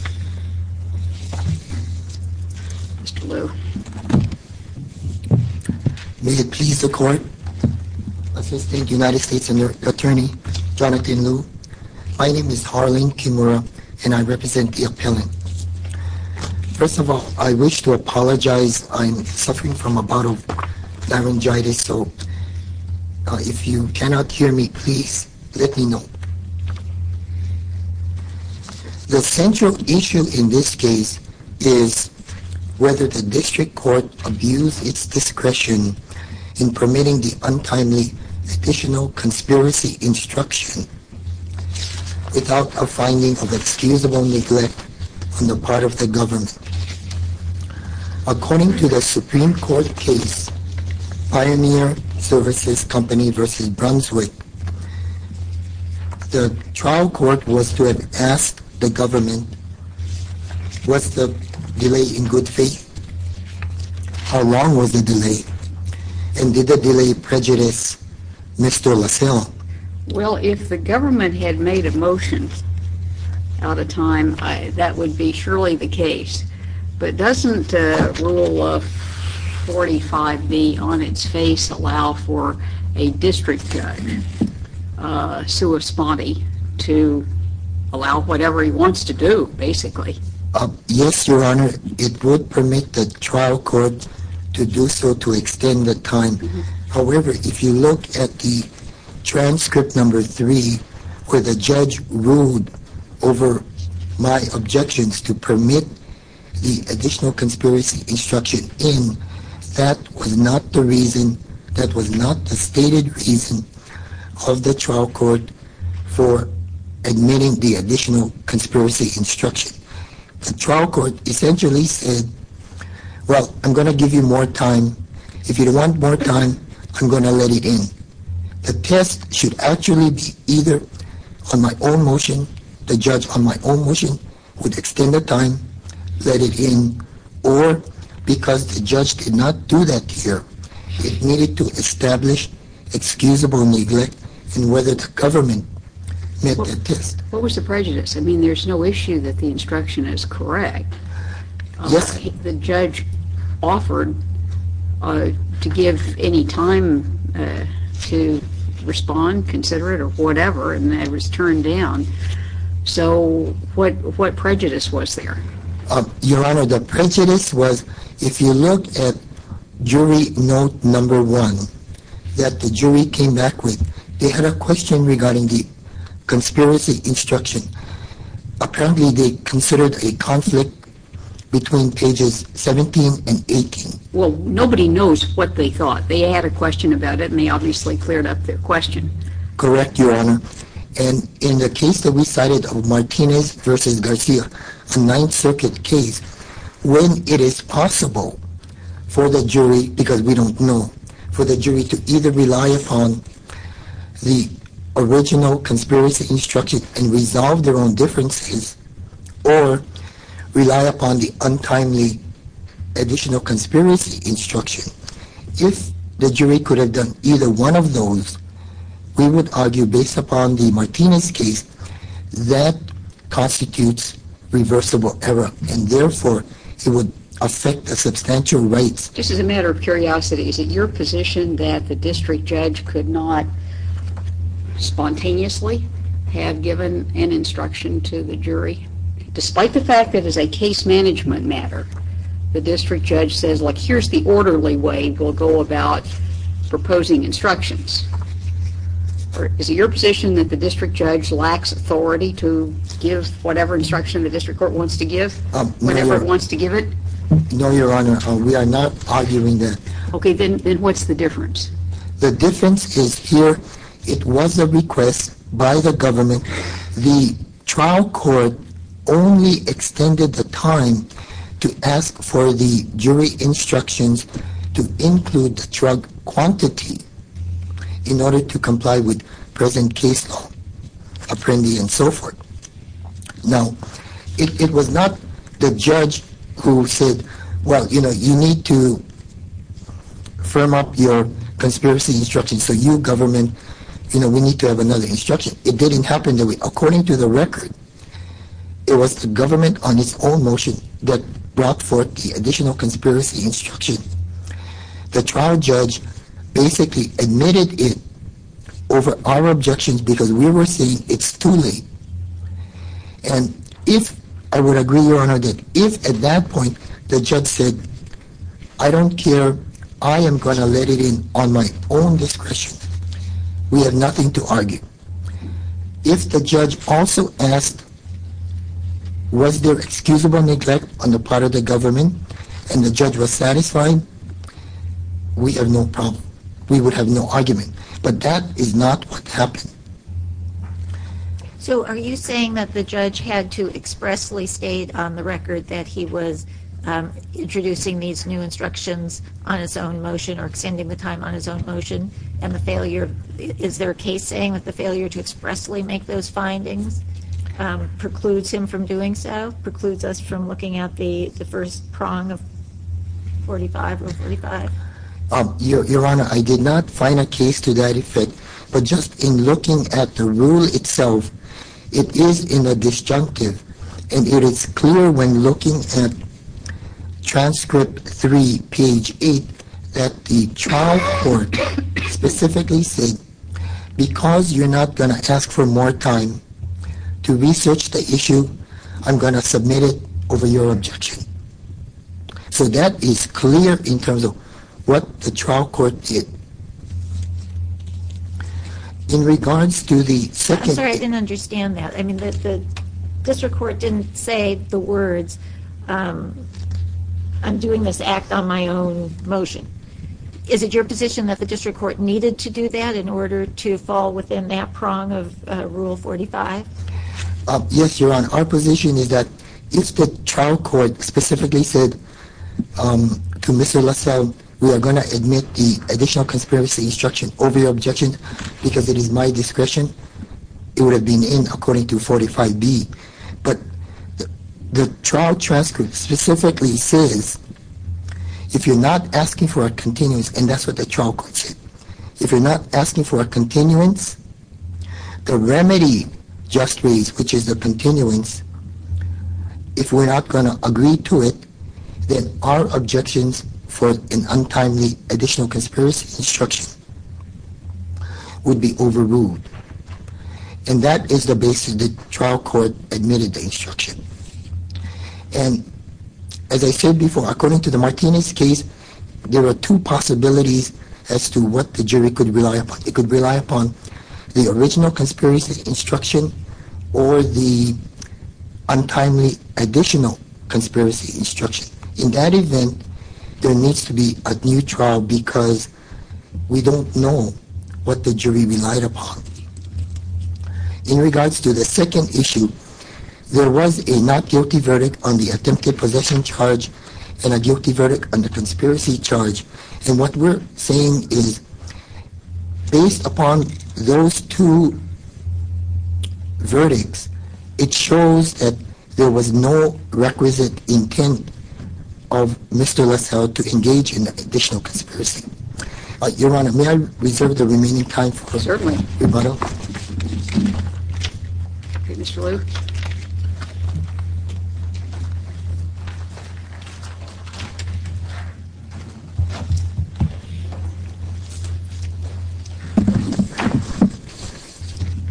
May it please the court, Assistant United States Attorney Jonathan Liu. My name is Harleen Kimura and I represent the appellant. First of all, I wish to apologize. I'm suffering from a bout of laryngitis, so if you cannot hear me, please let me know. The central issue in this case is whether the district court abused its discretion in permitting the untimely additional conspiracy instruction without a finding of excusable neglect on the part of the government. According to the Supreme Court case, Pioneer Services Company v. Brunswick, the trial court was to have asked the government, was the delay in good faith? How long was the delay? And did the delay prejudice Mr. Lasalle? Well, if the government had made a motion out of time, that would be surely the case. But doesn't Rule of 45B on its face allow for a district judge, sue a spotty, to allow whatever he wants to do, basically? Yes, Your Honor. It would permit the trial court to do so to extend the time. However, if you look at the transcript number three, where the judge ruled over my objections to permit the additional conspiracy instruction in, that was not the reason, that was not the stated reason of the trial court for admitting the additional conspiracy instruction. The trial court essentially said, well, I'm going to give you more time. If you want more time, I'm going to let it in. The test should actually be either on my own motion, the judge on my own motion, would extend the time, let it in, or because the judge did not do that here, it needed to establish excusable neglect in whether the government met the test. What was the prejudice? I mean, there's no issue that the instruction is correct. Yes. The judge offered to give any time to respond, consider it, or whatever, and that was turned down. So, what prejudice was there? Your Honor, the prejudice was, if you look at jury note number one, that the jury came back with, they had a question regarding the conspiracy instruction. Apparently, they considered a conflict between pages 17 and 18. Well, nobody knows what they thought. They had a question about it, and they obviously cleared up their question. Correct, Your Honor, and in the case that we cited of Martinez v. Garcia, a Ninth Circuit case, when it is possible for the jury, because we don't know, for the jury to either rely upon the original conspiracy instruction and resolve their own differences, or rely upon the untimely additional conspiracy instruction. If the jury could have done either one of those, we would argue, based upon the Martinez case, that constitutes reversible error, and therefore, it would affect the substantial rights. Just as a matter of curiosity, is it your position that the district judge could not spontaneously have given an instruction to the jury? Despite the fact that it is a case management matter, the district judge says, like, here's the orderly way we'll go about proposing instructions. Is it your position that the district judge lacks authority to give whatever instruction the district court wants to give, whenever it wants to give it? No, Your Honor, we are not arguing that. Okay, then what's the difference? The difference is here, it was a request by the government. The trial court only extended the time to ask for the jury instructions to include the drug quantity in order to comply with present case law, apprendee, and so forth. Now, it was not the judge who said, well, you know, you need to firm up your conspiracy instruction, so you government, you know, we need to have another instruction. It didn't happen that way. According to the record, it was the government on its own motion that brought forth the additional conspiracy instruction. The trial judge basically admitted it over our objections, because we were saying it's too late. And if, I would agree, Your Honor, that if at that point the judge said, I don't care, I am going to let it in on my own discretion, we have nothing to argue. If the judge also asked, was there excusable neglect on the part of the government, and the judge was satisfied, we have no problem. We would have no argument. But that is not what happened. So are you saying that the judge had to expressly state on the record that he was introducing these new instructions on his own motion or extending the time on his own motion, and the failure, is there a case saying that the failure to expressly make those findings precludes him from doing so, precludes us from looking at the first prong of 45 or 45? Your Honor, I did not find a case to that effect. But just in looking at the rule itself, it is in a disjunctive. And it is clear when looking at transcript 3, page 8, that the trial court specifically said, because you're not going to ask for more time to research the issue, I'm going to submit it over your objection. So that is clear in terms of what the trial court did. In regards to the second — I'm sorry, I didn't understand that. I mean, the district court didn't say the words, I'm doing this act on my own motion. Is it your position that the district court needed to do that in order to fall within that prong of Rule 45? Yes, Your Honor. Our position is that if the trial court specifically said to Mr. Lasalle, we are going to admit the additional conspiracy instruction over your objection because it is my discretion, it would have been in according to 45B. But the trial transcript specifically says, if you're not asking for a continuance, and that's what the trial court said, if you're not asking for a continuance, the remedy just raised, which is the continuance, if we're not going to agree to it, then our objections for an untimely additional conspiracy instruction would be overruled. And that is the basis the trial court admitted the instruction. And as I said before, according to the Martinez case, there are two possibilities as to what the jury could rely upon. It could rely upon the original conspiracy instruction or the untimely additional conspiracy instruction. In that event, there needs to be a new trial because we don't know what the jury relied upon. In regards to the second issue, there was a not guilty verdict on the attempted possession charge and a guilty verdict on the conspiracy charge. And what we're saying is, based upon those two verdicts, it shows that there was no requisite intent of Mr. Lasalle to engage in an additional conspiracy. Your Honor, may I reserve the remaining time for rebuttal? Certainly. Okay, Mr. Liu.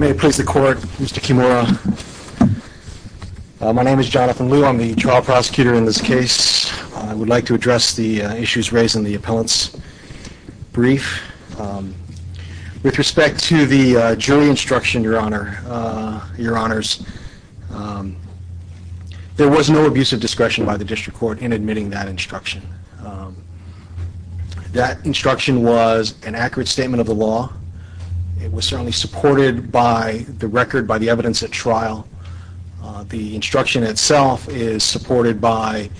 May it please the court, Mr. Kimura. My name is Jonathan Liu. I'm the trial prosecutor in this case. I would like to address the issues raised in the appellant's brief. With respect to the jury instruction, Your Honors, there was no abusive discretion by the district court in admitting that instruction. That instruction was an accurate statement of the law. It was certainly supported by the record, by the evidence at trial. The instruction itself is supported by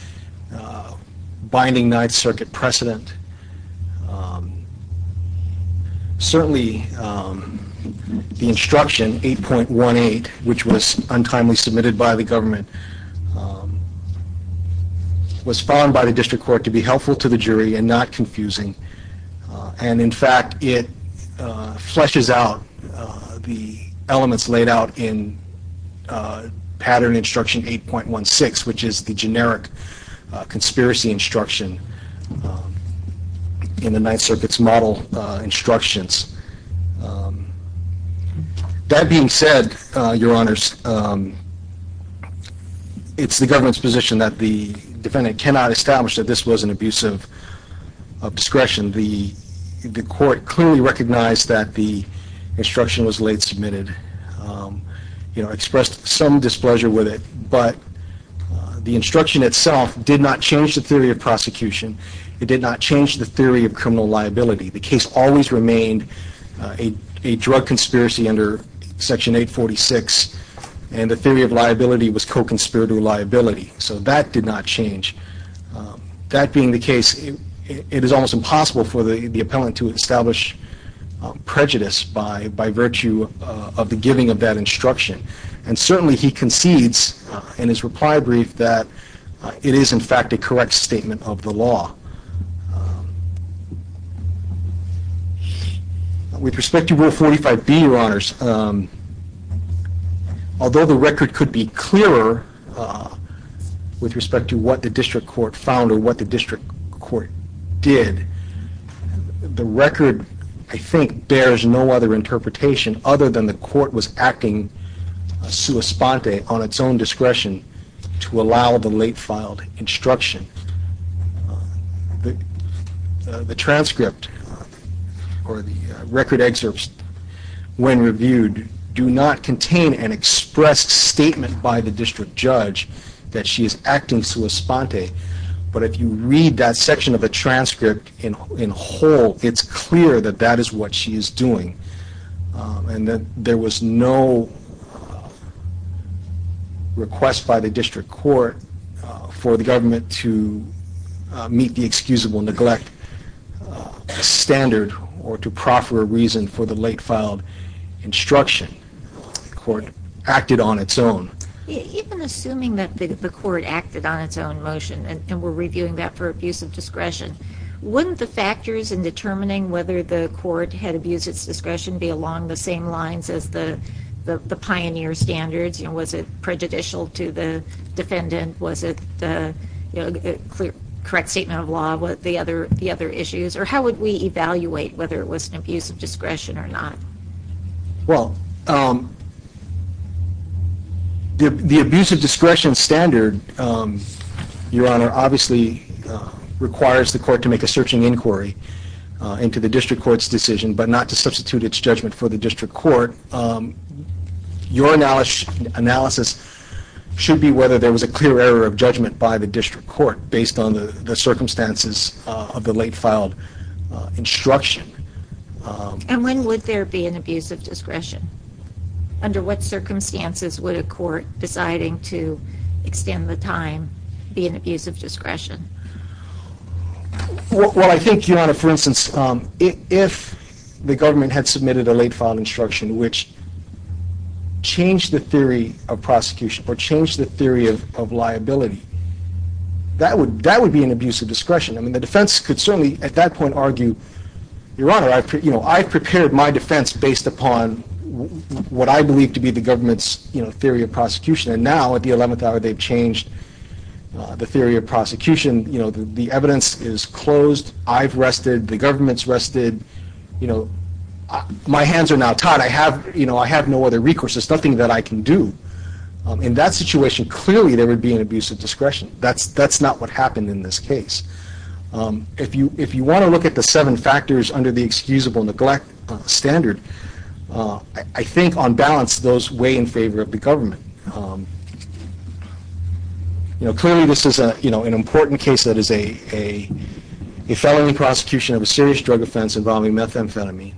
binding Ninth Circuit precedent. Certainly, the instruction 8.18, which was untimely submitted by the government, was found by the district court to be helpful to the jury and not confusing. And, in fact, it fleshes out the elements laid out in pattern instruction 8.16, which is the generic conspiracy instruction in the Ninth Circuit's model instructions. That being said, Your Honors, it's the government's position that the defendant cannot establish that this was an abusive discretion. The court clearly recognized that the instruction was late submitted, expressed some displeasure with it, but the instruction itself did not change the theory of prosecution. It did not change the theory of criminal liability. The case always remained a drug conspiracy under Section 846, and the theory of liability was co-conspirator liability. So that did not change. That being the case, it is almost impossible for the appellant to establish prejudice by virtue of the giving of that instruction. And, certainly, he concedes in his reply brief that it is, in fact, a correct statement of the law. With respect to Rule 45B, Your Honors, although the record could be clearer with respect to what the district court found or what the district court did, the record, I think, bears no other interpretation other than the court was acting sua sponte, on its own discretion, to allow the late filed instruction. The transcript or the record excerpts, when reviewed, do not contain an expressed statement by the district judge that she is acting sua sponte, but if you read that section of the transcript in whole, it's clear that that is what she is doing. And that there was no request by the district court for the government to meet the excusable neglect standard or to proffer a reason for the late filed instruction. The court acted on its own. Even assuming that the court acted on its own motion, and we're reviewing that for abuse of discretion, wouldn't the factors in determining whether the court had abused its discretion be along the same lines as the pioneer standards? Was it prejudicial to the defendant? Was it the correct statement of law? The other issues? Or how would we evaluate whether it was an abuse of discretion or not? Well, the abuse of discretion standard, Your Honor, obviously requires the court to make a searching inquiry into the district court's decision, but not to substitute its judgment for the district court. Your analysis should be whether there was a clear error of judgment by the district court based on the circumstances of the late filed instruction. And when would there be an abuse of discretion? Under what circumstances would a court deciding to extend the time be an abuse of discretion? Well, I think, Your Honor, for instance, if the government had submitted a late filed instruction which changed the theory of prosecution or changed the theory of liability, that would be an abuse of discretion. The defense could certainly at that point argue, Your Honor, I prepared my defense based upon what I believe to be the government's theory of prosecution and now at the 11th hour they've changed the theory of prosecution. The evidence is closed. I've rested. The government's rested. My hands are now tied. I have no other recourse. There's nothing that I can do. In that situation, clearly there would be an abuse of discretion. That's not what happened in this case. If you want to look at the seven factors under the excusable neglect standard, I think on balance those weigh in favor of the government. Clearly this is an important case that is a felony prosecution of a serious drug offense involving methamphetamine.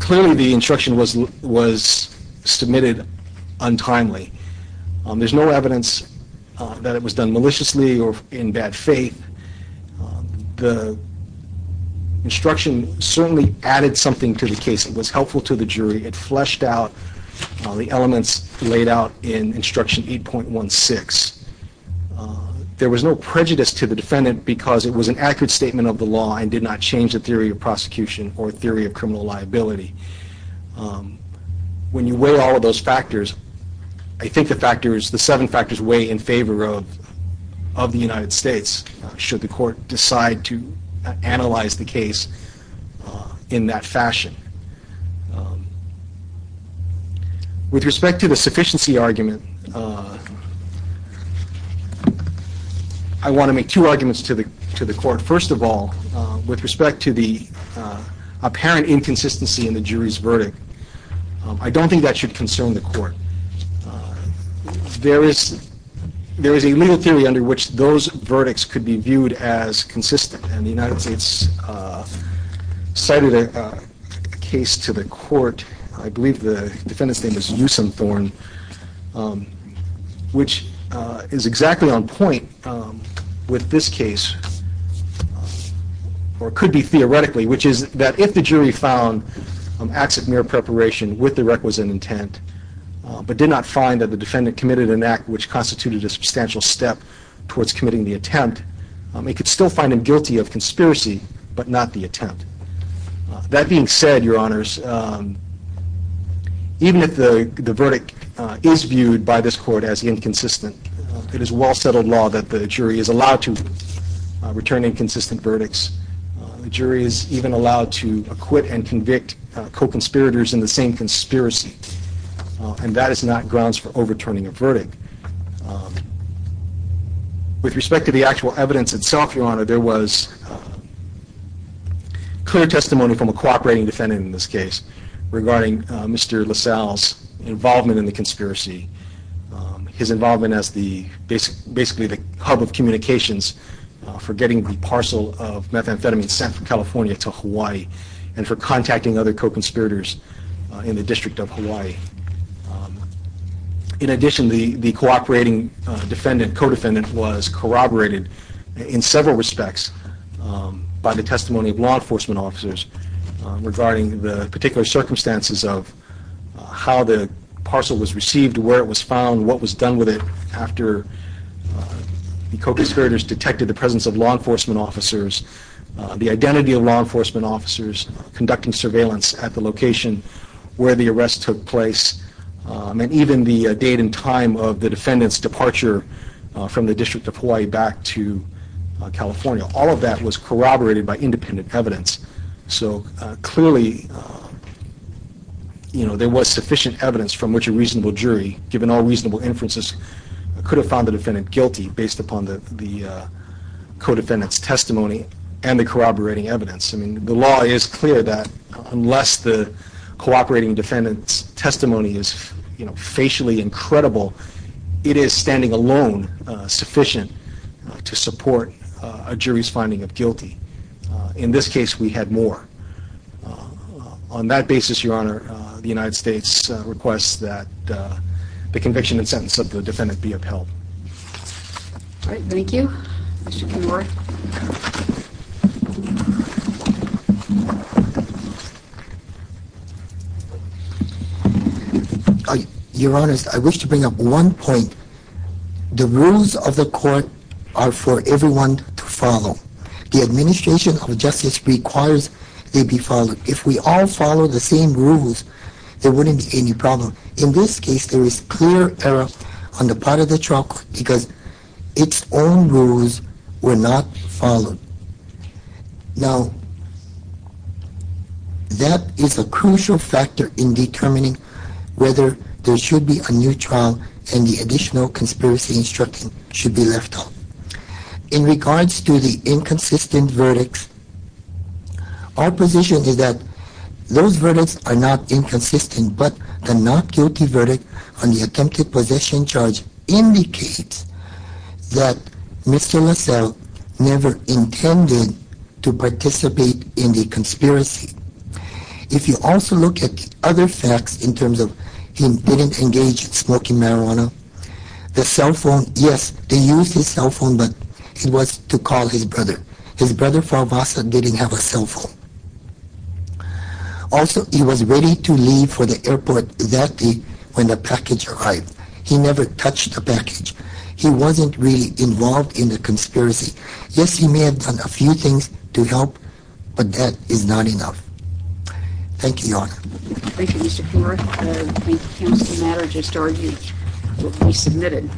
Clearly the instruction was submitted untimely. There's no evidence that it was done maliciously or in bad faith. The instruction certainly added something to the case. It was helpful to the jury. It fleshed out the elements laid out in instruction 8.16. There was no prejudice to the defendant because it was an accurate statement of the law and did not change the theory of prosecution or theory of criminal liability. When you weigh all of those factors, I think the seven factors weigh in favor of the United States, should the court decide to analyze the case in that fashion. With respect to the sufficiency argument, I want to make two arguments to the court. First of all, with respect to the apparent inconsistency in the jury's verdict, I don't think that should concern the court. There is a legal theory under which those verdicts could be viewed as consistent. The United States cited a case to the court, I believe the defendant's name is Usam Thorn, which is exactly on point with this case, or could be theoretically, which is that if the jury found acts of mere preparation with the requisite intent, but did not find that the defendant committed an act which constituted a substantial step towards committing the attempt, it could still find him guilty of conspiracy, but not the attempt. That being said, your honors, even if the verdict is viewed by this court as inconsistent, it is well settled law that the jury is allowed to return inconsistent verdicts. The jury is even allowed to acquit and convict co-conspirators in the same conspiracy, and that is not grounds for overturning a verdict. With respect to the actual evidence itself, your honor, there was clear testimony from a cooperating defendant in this case regarding Mr. LaSalle's involvement in the conspiracy, his involvement as the hub of communications for getting the parcel of methamphetamine sent from California to Hawaii, and for contacting other co-conspirators in the District of Hawaii. In addition, the cooperating defendant, co-defendant, was corroborated in several respects by the testimony of law enforcement officers regarding the particular circumstances of how the parcel was received, where it was found, what was done with it after the co-conspirators detected the presence of law enforcement officers, the identity of law enforcement officers conducting surveillance at the location where the arrest took place, and even the date and time of the defendant's departure from the District of Hawaii back to California. All of that was corroborated by independent evidence. Clearly, there was sufficient evidence from which a reasonable jury, given all reasonable inferences, could have found the defendant guilty based upon the co-defendant's testimony and the corroborating evidence. The law is clear that unless the cooperating defendant's testimony is facially incredible, it is, standing alone, sufficient to support a jury's finding of guilty. In this case, we had more. On that basis, Your Honor, the United States requests that the conviction and sentence of the defendant be upheld. Thank you. Mr. Kimura? Your Honor, I wish to bring up one point. The rules of the court are for everyone to follow. The administration of justice requires they be followed. If we all follow the same rules, there wouldn't be any problem. In this case, there is clear error on the part of the trial because its own rules were not followed. Now, that is a crucial factor in determining whether there should be a new trial and the additional conspiracy instruction should be left off. In regards to the inconsistent verdicts, our position is that those verdicts are not inconsistent, but the not guilty verdict on the attempted possession charge indicates that Mr. Lassell never intended to participate in the conspiracy. If you also look at other facts in terms of he didn't engage in smoking marijuana, the cell phone, yes, they used his cell phone, but it was to call his brother. His brother, Falvassa, didn't have a cell phone. Also, he was ready to leave for the airport that day when the package arrived. He never touched the package. He wasn't really involved in the conspiracy. Yes, he may have done a few things to help, but that is not enough. Thank you, Your Honor.